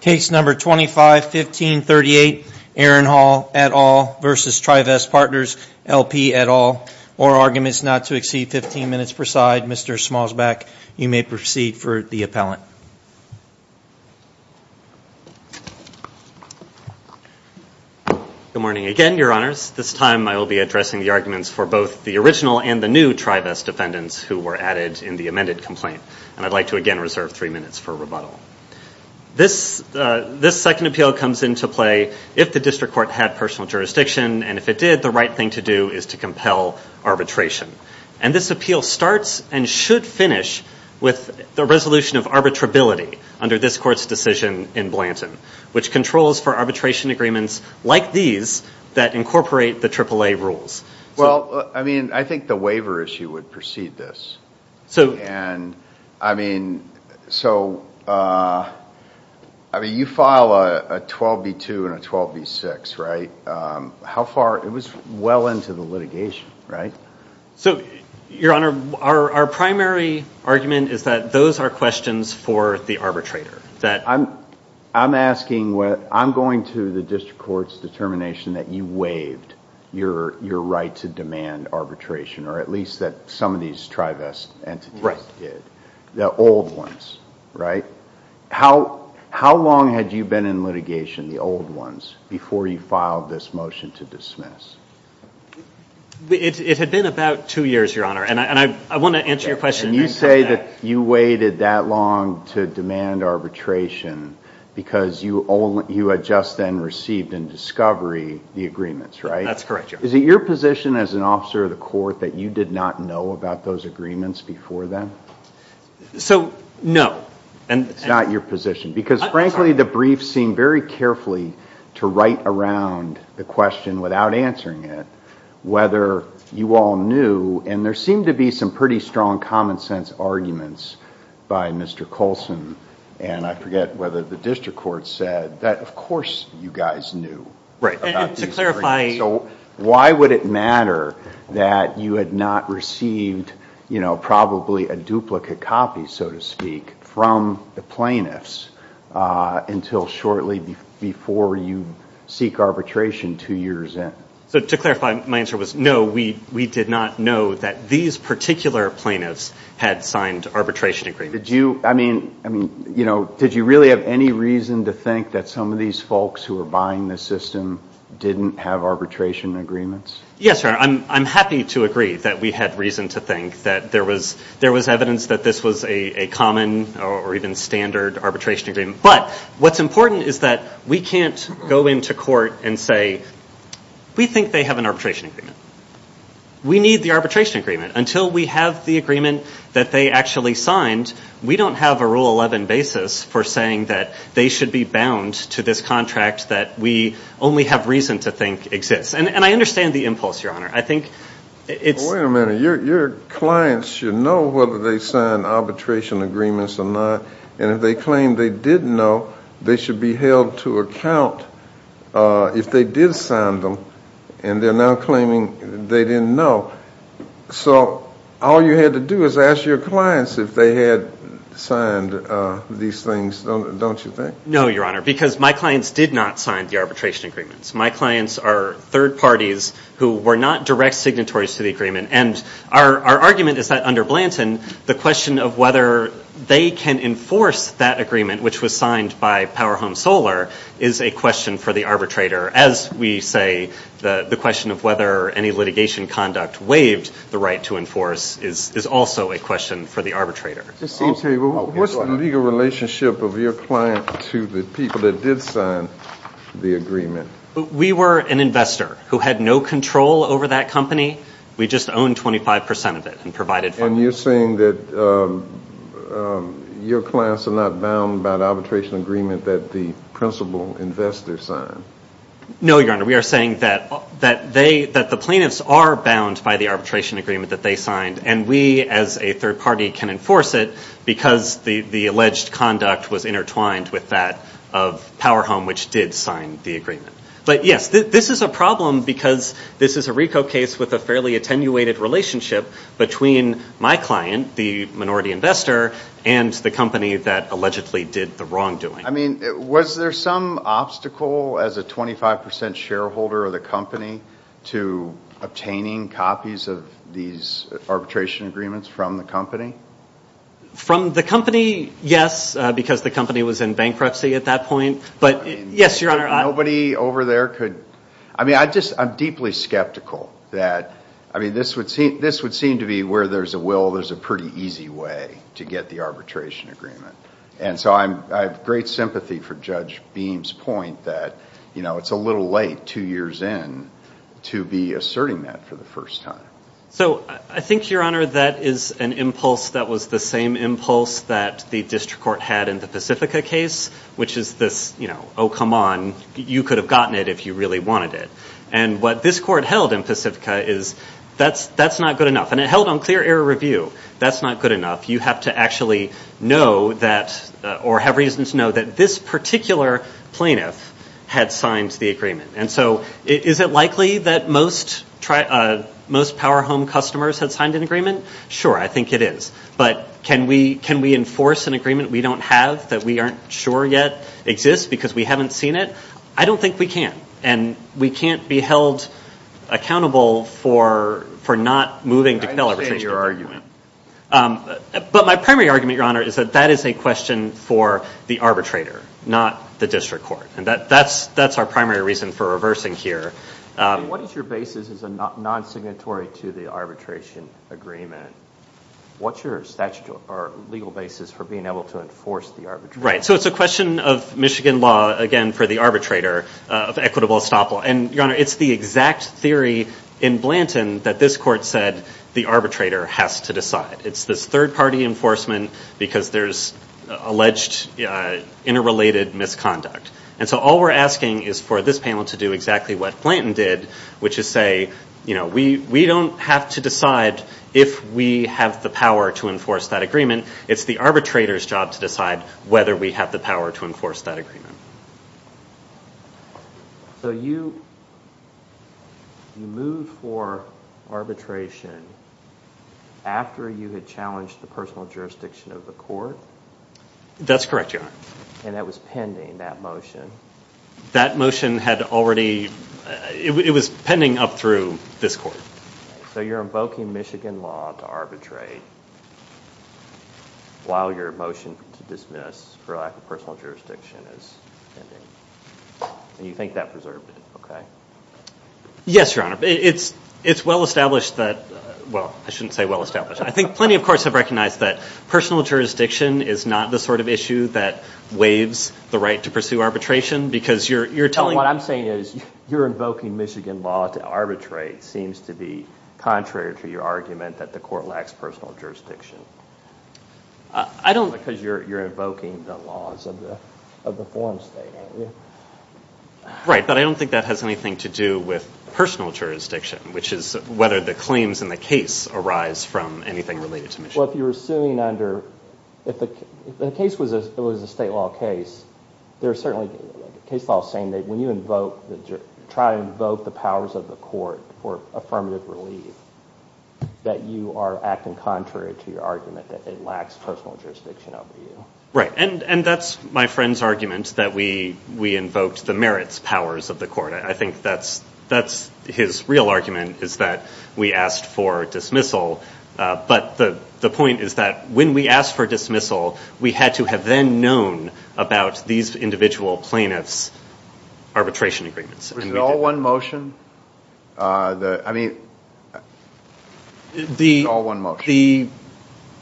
Case number 251538 Aaron Hall et al. versus Trivest Partners LP et al. Or arguments not to exceed 15 minutes per side. Mr. Smallsback, you may proceed for the appellant. Good morning again, your honors. This time I will be addressing the arguments for both the original and the new Trivest defendants who were added in the amended complaint. And I'd like to again reserve three minutes for rebuttal. This second appeal comes into play if the district court had personal jurisdiction, and if it did, the right thing to do is to compel arbitration. And this appeal starts and should finish with the resolution of arbitrability under this court's decision in Blanton, which controls for arbitration agreements like these that incorporate the AAA rules. Well, I mean, I think the waiver issue would precede this. And I mean, so you file a 12B2 and a 12B6, right? How far, it was well into the litigation, right? So, your honor, our primary argument is that those are questions for the arbitrator. I'm asking, I'm going to the district court's determination that you waived your right to demand arbitration, or at least that some of these Trivest entities did, the old ones, right? How long had you been in litigation, the old ones, before you filed this motion to dismiss? It had been about two years, your honor, and I want to answer your question. You say that you waited that long to demand arbitration because you had just then received in discovery the agreements, right? That's correct, your honor. Is it your position as an officer of the court that you did not know about those agreements before then? So, no. It's not your position because, frankly, the brief seemed very carefully to write around the question without answering it, whether you all knew, and there seemed to be some pretty strong common sense arguments by Mr. Colson, and I forget whether the district court said that, of course, you guys knew about these agreements. So, why would it matter that you had not received, you know, probably a duplicate copy, so to speak, from the plaintiffs until shortly before you seek arbitration two years in? So, to clarify, my answer was no, we did not know that these particular plaintiffs had signed arbitration agreements. Did you, I mean, you know, did you really have any reason to think that some of these folks who were buying the system didn't have arbitration agreements? Yes, your honor. I'm happy to agree that we had reason to think that there was evidence that this was a common or even standard arbitration agreement, but what's important is that we can't go into court and say we think they have an arbitration agreement. We need the arbitration agreement. Until we have the agreement that they actually signed, we don't have a rule 11 basis for saying that they should be bound to this contract that we only have reason to think exists, and I understand the impulse, your honor. I think it's – Well, wait a minute. Your clients should know whether they signed arbitration agreements or not, and if they claim they didn't know, they should be held to account if they did sign them, and they're now claiming they didn't know. So all you had to do is ask your clients if they had signed these things, don't you think? No, your honor, because my clients did not sign the arbitration agreements. My clients are third parties who were not direct signatories to the agreement, and our argument is that under Blanton, the question of whether they can enforce that agreement, which was signed by Power Home Solar, is a question for the arbitrator, as we say the question of whether any litigation conduct waived the right to enforce is also a question for the arbitrator. What's the legal relationship of your client to the people that did sign the agreement? We were an investor who had no control over that company. We just owned 25 percent of it and provided for it. And you're saying that your clients are not bound by the arbitration agreement that the principal investor signed? No, your honor, we are saying that the plaintiffs are bound by the arbitration agreement that they signed, and we as a third party can enforce it because the alleged conduct was intertwined with that of Power Home, which did sign the agreement. But, yes, this is a problem because this is a RICO case with a fairly attenuated relationship between my client, the minority investor, and the company that allegedly did the wrongdoing. I mean, was there some obstacle as a 25 percent shareholder of the company to obtaining copies of these arbitration agreements from the company? From the company, yes, because the company was in bankruptcy at that point. But, yes, your honor. Nobody over there could? I mean, I'm deeply skeptical that, I mean, this would seem to be where there's a will, there's a pretty easy way to get the arbitration agreement. And so I have great sympathy for Judge Beam's point that, you know, it's a little late two years in to be asserting that for the first time. So I think, your honor, that is an impulse that was the same impulse that the district court had in the Pacifica case, which is this, you know, oh, come on, you could have gotten it if you really wanted it. And what this court held in Pacifica is that's not good enough. And it held on clear error review. That's not good enough. You have to actually know that or have reason to know that this particular plaintiff had signed the agreement. And so is it likely that most power home customers had signed an agreement? Sure, I think it is. But can we enforce an agreement we don't have that we aren't sure yet exists because we haven't seen it? I don't think we can. And we can't be held accountable for not moving to calibration. I appreciate your argument. But my primary argument, your honor, is that that is a question for the arbitrator, not the district court. And that's our primary reason for reversing here. What is your basis as a non-signatory to the arbitration agreement? What's your statute or legal basis for being able to enforce the arbitration? Right. So it's a question of Michigan law, again, for the arbitrator of equitable estoppel. And, your honor, it's the exact theory in Blanton that this court said the arbitrator has to decide. It's this third-party enforcement because there's alleged interrelated misconduct. And so all we're asking is for this panel to do exactly what Blanton did, which is say, you know, we don't have to decide if we have the power to enforce that agreement. It's the arbitrator's job to decide whether we have the power to enforce that agreement. So you moved for arbitration after you had challenged the personal jurisdiction of the court? That's correct, your honor. And that was pending, that motion. That motion had already, it was pending up through this court. So you're invoking Michigan law to arbitrate while your motion to dismiss for lack of personal jurisdiction is pending. And you think that preserved it, okay. Yes, your honor. It's well-established that, well, I shouldn't say well-established. I think plenty of courts have recognized that personal jurisdiction is not the sort of issue that waives the right to pursue arbitration. What I'm saying is you're invoking Michigan law to arbitrate seems to be contrary to your argument that the court lacks personal jurisdiction. I don't think. Because you're invoking the laws of the foreign state, aren't you? Right, but I don't think that has anything to do with personal jurisdiction, which is whether the claims in the case arise from anything related to Michigan. Well, if you're assuming under, if the case was a state law case, there are certainly case laws saying that when you try to invoke the powers of the court for affirmative relief, that you are acting contrary to your argument that it lacks personal jurisdiction over you. Right, and that's my friend's argument that we invoked the merits powers of the court. I think that's his real argument is that we asked for dismissal. But the point is that when we asked for dismissal, we had to have then known about these individual plaintiffs' arbitration agreements. Was it all one motion? I mean, it was all one motion.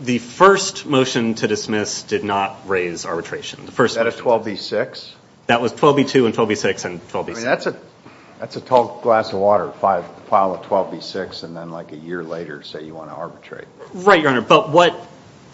The first motion to dismiss did not raise arbitration. Was that a 12B-6? That was 12B-2 and 12B-6 and 12B-6. I mean, that's a tall glass of water to file a 12B-6 and then like a year later say you want to arbitrate. Right, Your Honor, but what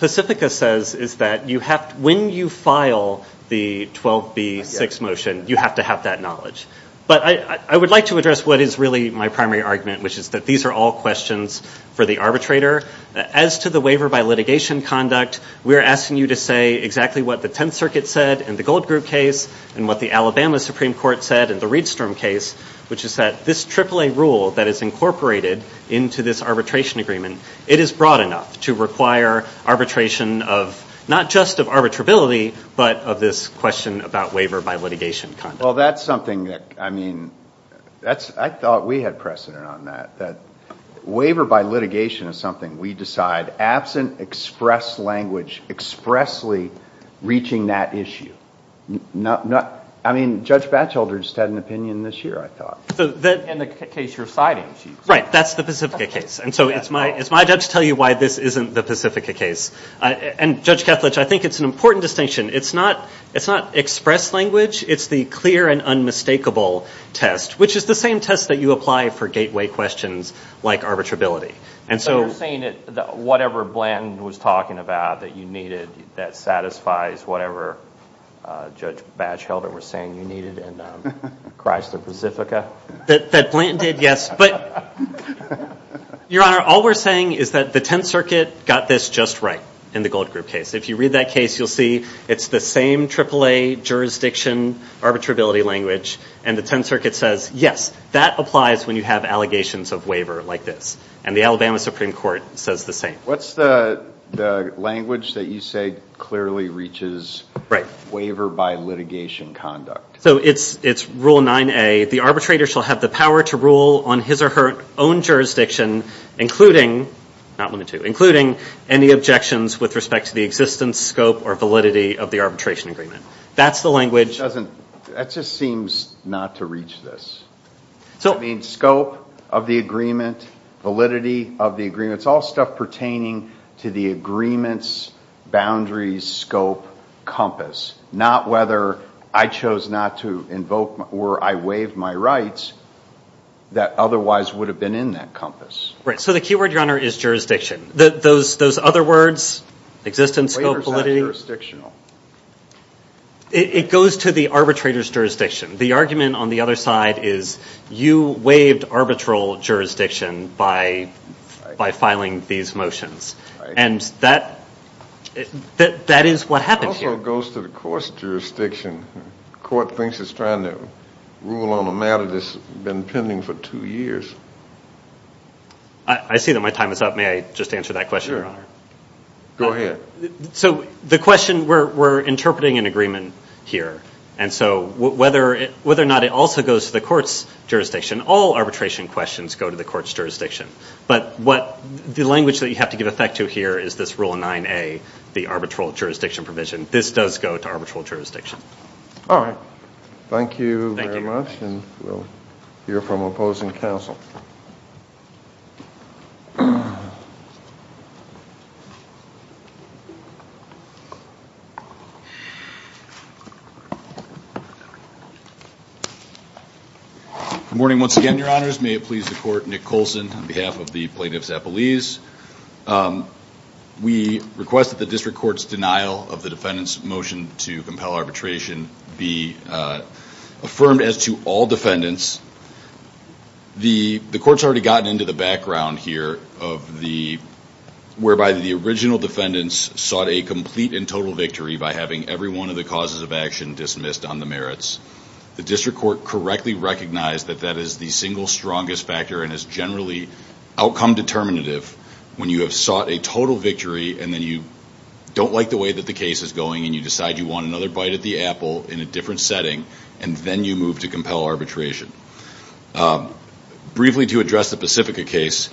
Pacifica says is that you have to, when you file the 12B-6 motion, you have to have that knowledge. But I would like to address what is really my primary argument, which is that these are all questions for the arbitrator. As to the waiver by litigation conduct, we're asking you to say exactly what the Tenth Circuit said in the Gold Group case and what the Alabama Supreme Court said in the Riedstrom case, which is that this AAA rule that is incorporated into this arbitration agreement, it is broad enough to require arbitration of not just of arbitrability but of this question about waiver by litigation conduct. Well, that's something that, I mean, I thought we had precedent on that, that waiver by litigation is something we decide, but absent express language expressly reaching that issue. I mean, Judge Batchelder just had an opinion this year, I thought. In the case you're citing. Right, that's the Pacifica case. And so it's my job to tell you why this isn't the Pacifica case. And, Judge Kethledge, I think it's an important distinction. It's not express language. It's the clear and unmistakable test, which is the same test that you apply for gateway questions like arbitrability. So you're saying that whatever Blanton was talking about that you needed, that satisfies whatever Judge Batchelder was saying you needed in Christ of Pacifica? That Blanton did, yes. But, Your Honor, all we're saying is that the Tenth Circuit got this just right in the Gold Group case. If you read that case, you'll see it's the same AAA jurisdiction arbitrability language, and the Tenth Circuit says, yes, that applies when you have allegations of waiver like this. And the Alabama Supreme Court says the same. What's the language that you say clearly reaches waiver by litigation conduct? So it's Rule 9a, the arbitrator shall have the power to rule on his or her own jurisdiction, including any objections with respect to the existence, scope, or validity of the arbitration agreement. That's the language. That just seems not to reach this. It means scope of the agreement, validity of the agreement. It's all stuff pertaining to the agreement's boundaries, scope, compass, not whether I chose not to invoke or I waived my rights that otherwise would have been in that compass. Right. So the key word, Your Honor, is jurisdiction. Those other words, existence, scope, validity. Waivers are jurisdictional. It goes to the arbitrator's jurisdiction. The argument on the other side is you waived arbitral jurisdiction by filing these motions. And that is what happened here. It also goes to the court's jurisdiction. The court thinks it's trying to rule on a matter that's been pending for two years. I see that my time is up. May I just answer that question, Your Honor? Sure. Go ahead. So the question, we're interpreting an agreement here. And so whether or not it also goes to the court's jurisdiction, all arbitration questions go to the court's jurisdiction. But the language that you have to give effect to here is this Rule 9A, the arbitral jurisdiction provision. This does go to arbitral jurisdiction. All right. Thank you very much. Thank you, Your Honor. And we'll hear from opposing counsel. Good morning once again, Your Honors. May it please the Court, Nick Colson on behalf of the plaintiff's appellees. We request that the district court's denial of the defendant's motion to compel arbitration be affirmed as to all defendants. The court's already gotten into the background here, whereby the original defendants sought a complete and total victory by having every one of the causes of action dismissed on the merits. The district court correctly recognized that that is the single strongest factor and is generally outcome determinative when you have sought a total victory and then you don't like the way that the case is going and you decide you want another bite at the apple in a different setting, and then you move to compel arbitration. Briefly, to address the Pacifica case,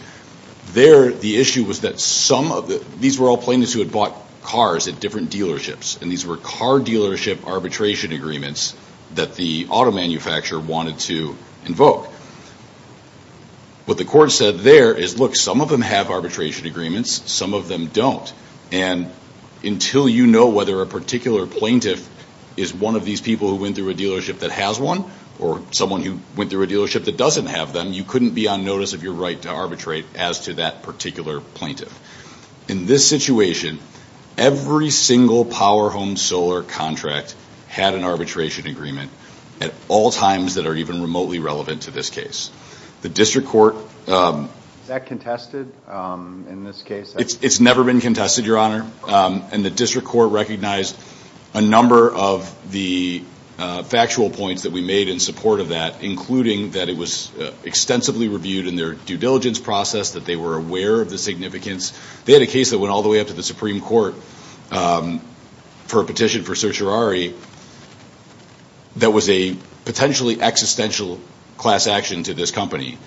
the issue was that these were all plaintiffs who had bought cars at different dealerships, and these were car dealership arbitration agreements that the auto manufacturer wanted to invoke. What the court said there is, look, some of them have arbitration agreements, some of them don't, and until you know whether a particular plaintiff is one of these people who went through a dealership that has one or someone who went through a dealership that doesn't have them, you couldn't be on notice of your right to arbitrate as to that particular plaintiff. In this situation, every single power home solar contract had an arbitration agreement at all times that are even remotely relevant to this case. The district court- Is that contested in this case? It's never been contested, Your Honor, and the district court recognized a number of the factual points that we made in support of that, including that it was extensively reviewed in their due diligence process, that they were aware of the significance. They had a case that went all the way up to the Supreme Court for a petition for certiorari that was a potentially existential class action to this company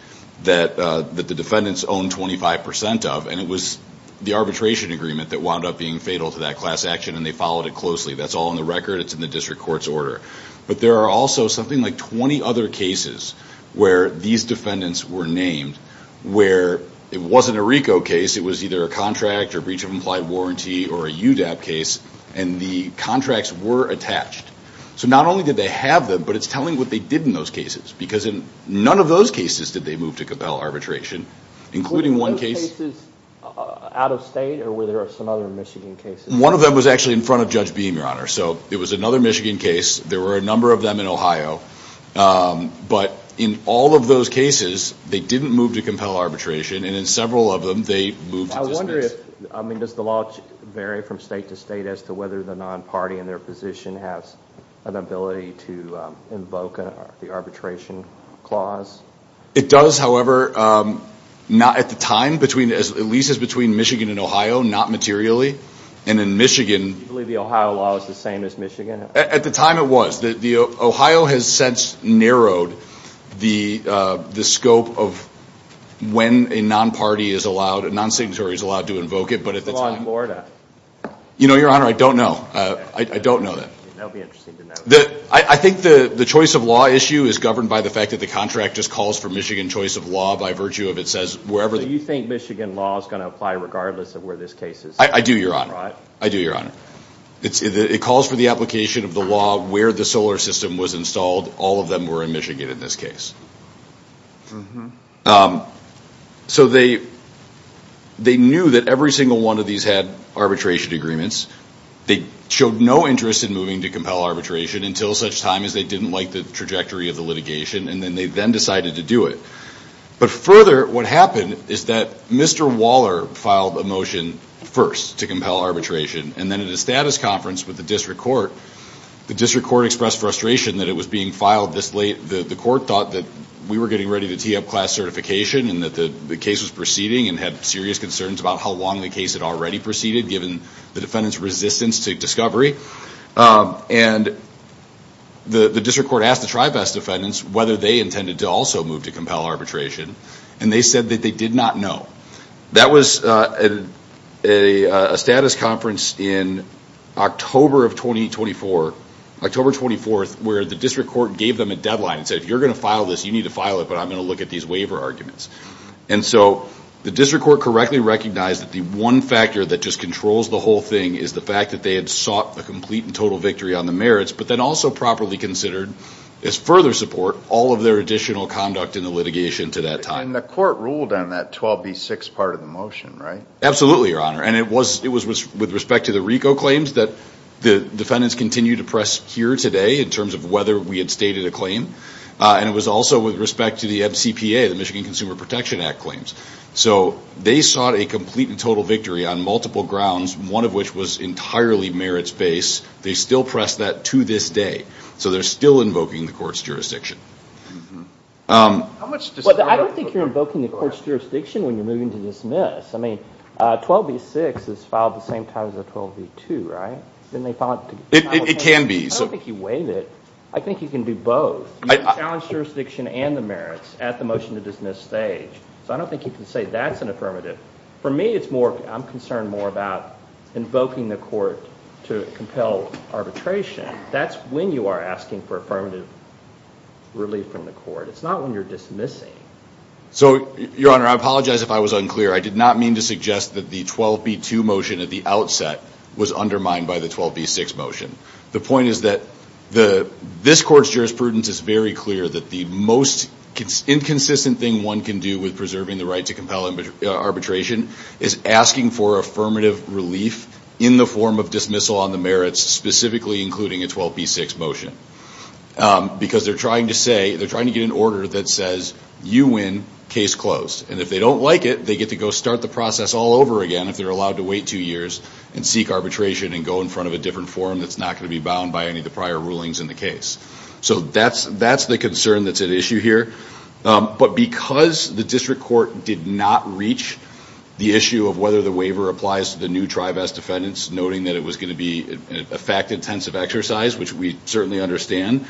that the defendants owned 25% of, and it was the arbitration agreement that wound up being fatal to that class action, and they followed it closely. That's all in the record. It's in the district court's order. But there are also something like 20 other cases where these defendants were named where it wasn't a RICO case. It was either a contract or breach of implied warranty or a UDAP case, and the contracts were attached. So not only did they have them, but it's telling what they did in those cases because in none of those cases did they move to compel arbitration, including one case- Were those cases out of state, or were there some other Michigan cases? One of them was actually in front of Judge Beam, Your Honor. So it was another Michigan case. There were a number of them in Ohio. But in all of those cases, they didn't move to compel arbitration, and in several of them, they moved to dismiss. I wonder if, I mean, does the law vary from state to state as to whether the non-party in their position has an ability to invoke the arbitration clause? It does, however, not at the time, at least as between Michigan and Ohio, not materially. And in Michigan- Do you believe the Ohio law is the same as Michigan? At the time, it was. Ohio has since narrowed the scope of when a non-party is allowed, a non-signatory is allowed to invoke it, but at the time- Law in Florida. You know, Your Honor, I don't know. I don't know that. That would be interesting to know. I think the choice of law issue is governed by the fact that the contract just calls for Michigan choice of law by virtue of it says wherever- So you think Michigan law is going to apply regardless of where this case is? I do, Your Honor. I do, Your Honor. It calls for the application of the law where the solar system was installed. All of them were in Michigan in this case. So they knew that every single one of these had arbitration agreements. They showed no interest in moving to compel arbitration until such time as they didn't like the trajectory of the litigation, and then they then decided to do it. But further, what happened is that Mr. Waller filed a motion first to compel arbitration, and then at a status conference with the district court, the district court expressed frustration that it was being filed this late. The court thought that we were getting ready to tee up class certification and that the case was proceeding and had serious concerns about how long the case had already proceeded, given the defendant's resistance to discovery. And the district court asked the Tribest defendants whether they intended to also move to compel arbitration, and they said that they did not know. That was a status conference in October of 2024, October 24th, where the district court gave them a deadline and said, if you're going to file this, you need to file it, but I'm going to look at these waiver arguments. And so the district court correctly recognized that the one factor that just controls the whole thing is the fact that they had sought a complete and total victory on the merits, but then also properly considered as further support all of their additional conduct in the litigation to that time. And the court ruled on that 12B6 part of the motion, right? Absolutely, Your Honor. And it was with respect to the RICO claims that the defendants continue to press here today in terms of whether we had stated a claim, and it was also with respect to the MCPA, the Michigan Consumer Protection Act claims. So they sought a complete and total victory on multiple grounds, one of which was entirely merits-based. They still press that to this day. So they're still invoking the court's jurisdiction. I don't think you're invoking the court's jurisdiction when you're moving to dismiss. I mean, 12B6 is filed at the same time as the 12B2, right? It can be. I don't think you waive it. I think you can do both. You challenge jurisdiction and the merits at the motion to dismiss stage. So I don't think you can say that's an affirmative. For me, I'm concerned more about invoking the court to compel arbitration. That's when you are asking for affirmative relief from the court. It's not when you're dismissing. So, Your Honor, I apologize if I was unclear. I did not mean to suggest that the 12B2 motion at the outset was undermined by the 12B6 motion. The point is that this court's jurisprudence is very clear that the most inconsistent thing one can do with preserving the right to compel arbitration is asking for affirmative relief in the form of dismissal on the merits, specifically including a 12B6 motion, because they're trying to get an order that says you win, case closed. And if they don't like it, they get to go start the process all over again if they're allowed to wait two years and seek arbitration and go in front of a different forum that's not going to be bound by any of the prior rulings in the case. So that's the concern that's at issue here. But because the district court did not reach the issue of whether the waiver applies to the new Tribas defendants, noting that it was going to be a fact-intensive exercise, which we certainly understand,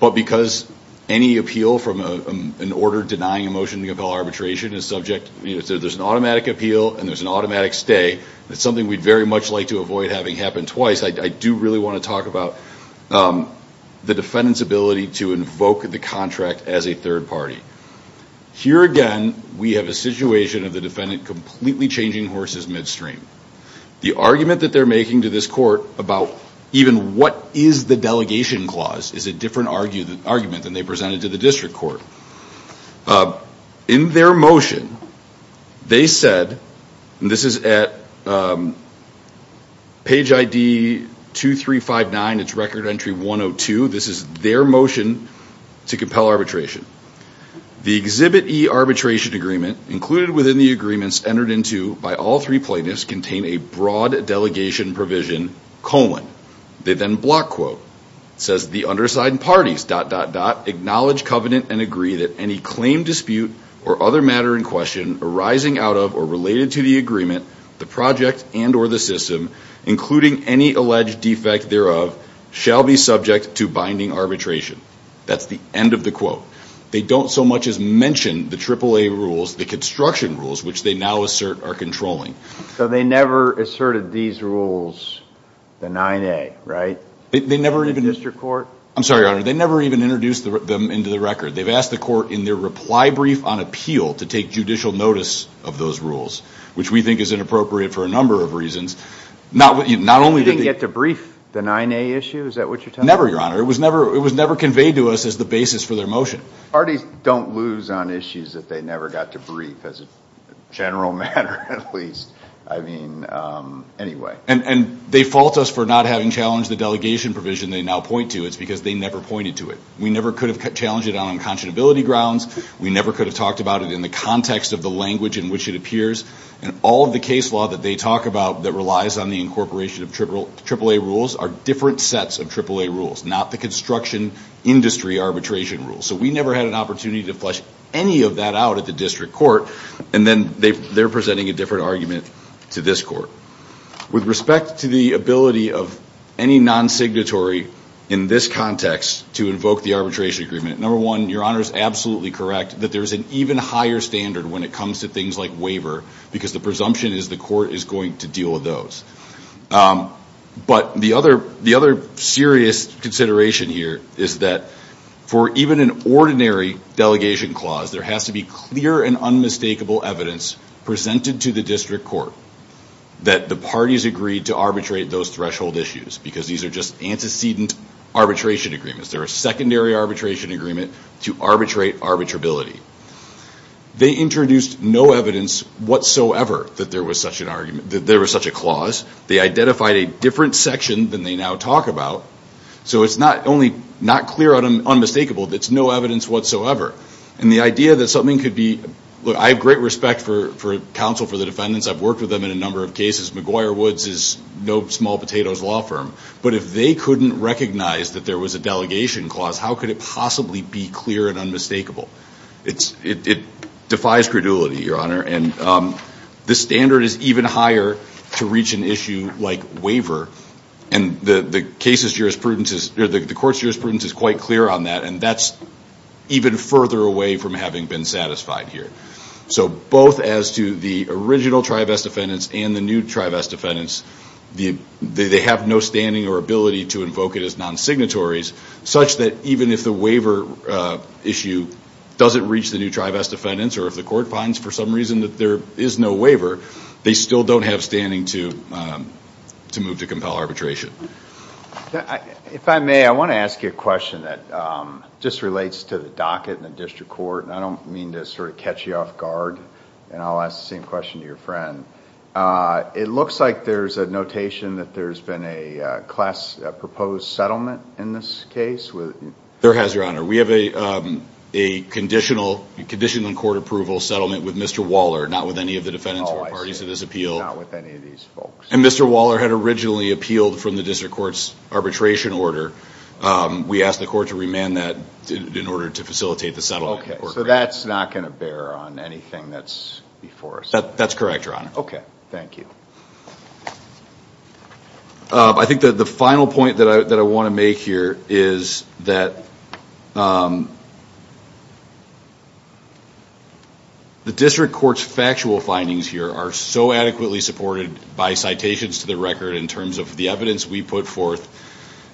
but because any appeal from an order denying a motion to compel arbitration is subject, there's an automatic appeal and there's an automatic stay. That's something we'd very much like to avoid having happen twice. I do really want to talk about the defendant's ability to invoke the contract as a third party. Here again, we have a situation of the defendant completely changing horses midstream. The argument that they're making to this court about even what is the delegation clause is a different argument than they presented to the district court. In their motion, they said, and this is at page ID 2359, it's record entry 102, this is their motion to compel arbitration. The Exhibit E arbitration agreement included within the agreements entered into by all three plaintiffs contain a broad delegation provision, colon. They then block quote. It says, the underside and parties, dot, dot, dot, acknowledge covenant and agree that any claim dispute or other matter in question arising out of or related to the agreement, the project and or the system, including any alleged defect thereof, shall be subject to binding arbitration. That's the end of the quote. They don't so much as mention the AAA rules, the construction rules, which they now assert are controlling. So they never asserted these rules, the 9A, right? The district court? I'm sorry, Your Honor. They never even introduced them into the record. They've asked the court in their reply brief on appeal to take judicial notice of those rules, which we think is inappropriate for a number of reasons. You didn't get to brief the 9A issue? Is that what you're telling me? Never, Your Honor. It was never conveyed to us as the basis for their motion. Parties don't lose on issues that they never got to brief, as a general matter at least. I mean, anyway. And they fault us for not having challenged the delegation provision they now point to. It's because they never pointed to it. We never could have challenged it on unconscionability grounds. We never could have talked about it in the context of the language in which it appears. And all of the case law that they talk about that relies on the incorporation of AAA rules are different sets of AAA rules, not the construction industry arbitration rules. So we never had an opportunity to flesh any of that out at the district court. And then they're presenting a different argument to this court. With respect to the ability of any non-signatory in this context to invoke the arbitration agreement, number one, Your Honor is absolutely correct that there is an even higher standard when it comes to things like waiver because the presumption is the court is going to deal with those. But the other serious consideration here is that for even an ordinary delegation clause, there has to be clear and unmistakable evidence presented to the district court that the parties agreed to arbitrate those threshold issues because these are just antecedent arbitration agreements. They're a secondary arbitration agreement to arbitrate arbitrability. They introduced no evidence whatsoever that there was such a clause. They identified a different section than they now talk about. So it's not only not clear and unmistakable, it's no evidence whatsoever. And the idea that something could be, look, I have great respect for counsel for the defendants. I've worked with them in a number of cases. McGuire Woods is no small potatoes law firm. But if they couldn't recognize that there was a delegation clause, how could it possibly be clear and unmistakable? It defies credulity, Your Honor, and the standard is even higher to reach an issue like waiver. And the court's jurisprudence is quite clear on that, and that's even further away from having been satisfied here. So both as to the original trivest defendants and the new trivest defendants, they have no standing or ability to invoke it as nonsignatories such that even if the waiver issue doesn't reach the new trivest defendants or if the court finds for some reason that there is no waiver, they still don't have standing to move to compel arbitration. If I may, I want to ask you a question that just relates to the docket and the district court, and I don't mean to sort of catch you off guard, and I'll ask the same question to your friend. It looks like there's a notation that there's been a class proposed settlement in this case. There has, Your Honor. We have a conditional court approval settlement with Mr. Waller, not with any of the defendants or parties of this appeal. Oh, I see, not with any of these folks. And Mr. Waller had originally appealed from the district court's arbitration order. We asked the court to remand that in order to facilitate the settlement. Okay, so that's not going to bear on anything that's before us. That's correct, Your Honor. Okay, thank you. I think that the final point that I want to make here is that the district court's factual findings here are so adequately supported by citations to the record in terms of the evidence we put forth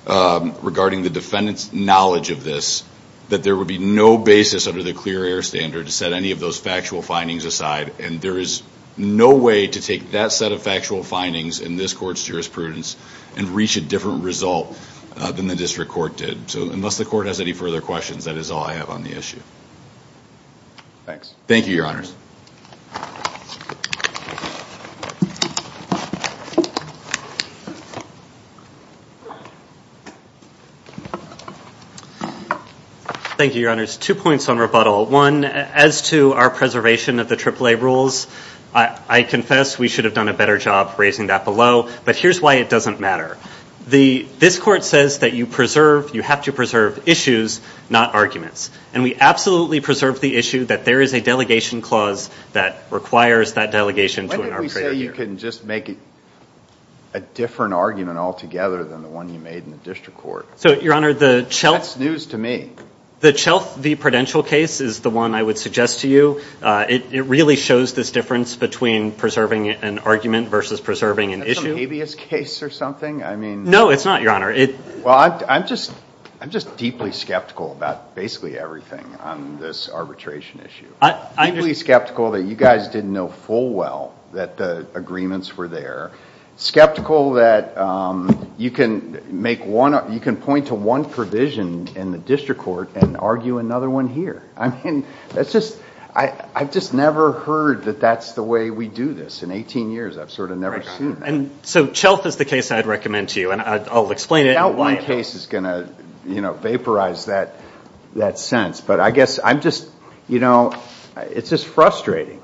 regarding the defendant's knowledge of this that there would be no basis under the clear air standard to set any of those factual findings aside, and there is no way to take that set of factual findings in this court's jurisprudence and reach a different result than the district court did. So unless the court has any further questions, that is all I have on the issue. Thanks. Thank you, Your Honors. Thank you, Your Honors. Two points on rebuttal. One, as to our preservation of the AAA rules, I confess we should have done a better job raising that below, but here's why it doesn't matter. This court says that you have to preserve issues, not arguments, and we absolutely preserve the issue that there is a delegation clause that requires that delegation to an arbitrator here. Why don't we say you can just make a different argument altogether than the one you made in the district court? That's news to me. The Chelf v. Prudential case is the one I would suggest to you. It really shows this difference between preserving an argument versus preserving an issue. Is that some habeas case or something? No, it's not, Your Honor. Well, I'm just deeply skeptical about basically everything on this arbitration issue, deeply skeptical that you guys didn't know full well that the agreements were there, skeptical that you can point to one provision in the district court and argue another one here. I mean, I've just never heard that that's the way we do this. In 18 years, I've sort of never seen that. So Chelf is the case I'd recommend to you, and I'll explain it. I doubt one case is going to vaporize that sense, but I guess I'm just, you know, it's just frustrating.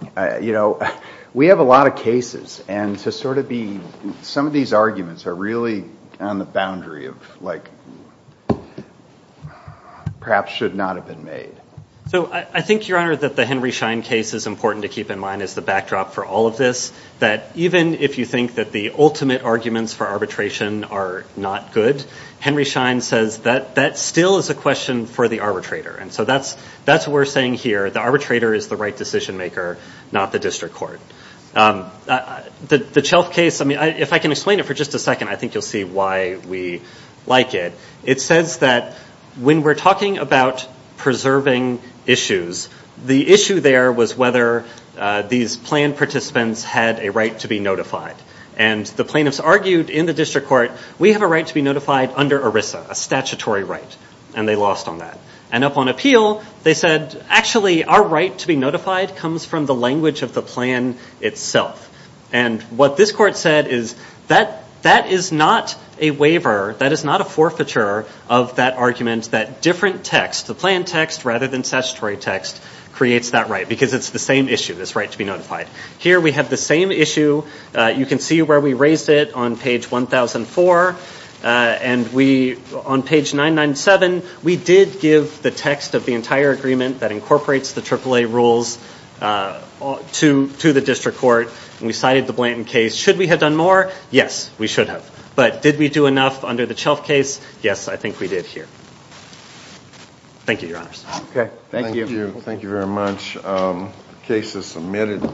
We have a lot of cases, and to sort of be some of these arguments are really on the boundary of, like, perhaps should not have been made. So I think, Your Honor, that the Henry Schein case is important to keep in mind as the backdrop for all of this, that even if you think that the ultimate arguments for arbitration are not good, Henry Schein says that that still is a question for the arbitrator. And so that's what we're saying here. The arbitrator is the right decision maker, not the district court. The Chelf case, I mean, if I can explain it for just a second, I think you'll see why we like it. It says that when we're talking about preserving issues, the issue there was whether these planned participants had a right to be notified. And the plaintiffs argued in the district court, we have a right to be notified under ERISA, a statutory right, and they lost on that. And upon appeal, they said, actually, our right to be notified comes from the language of the plan itself. And what this court said is that that is not a waiver, that is not a forfeiture of that argument, that different text, the plan text rather than statutory text, creates that right, because it's the same issue, this right to be notified. Here we have the same issue. You can see where we raised it on page 1004. And on page 997, we did give the text of the entire agreement that incorporates the AAA rules to the district court, and we cited the Blanton case. Should we have done more? Yes, we should have. But did we do enough under the Chelf case? Yes, I think we did here. Thank you, Your Honors. Okay. Thank you. Thank you very much. The case is submitted.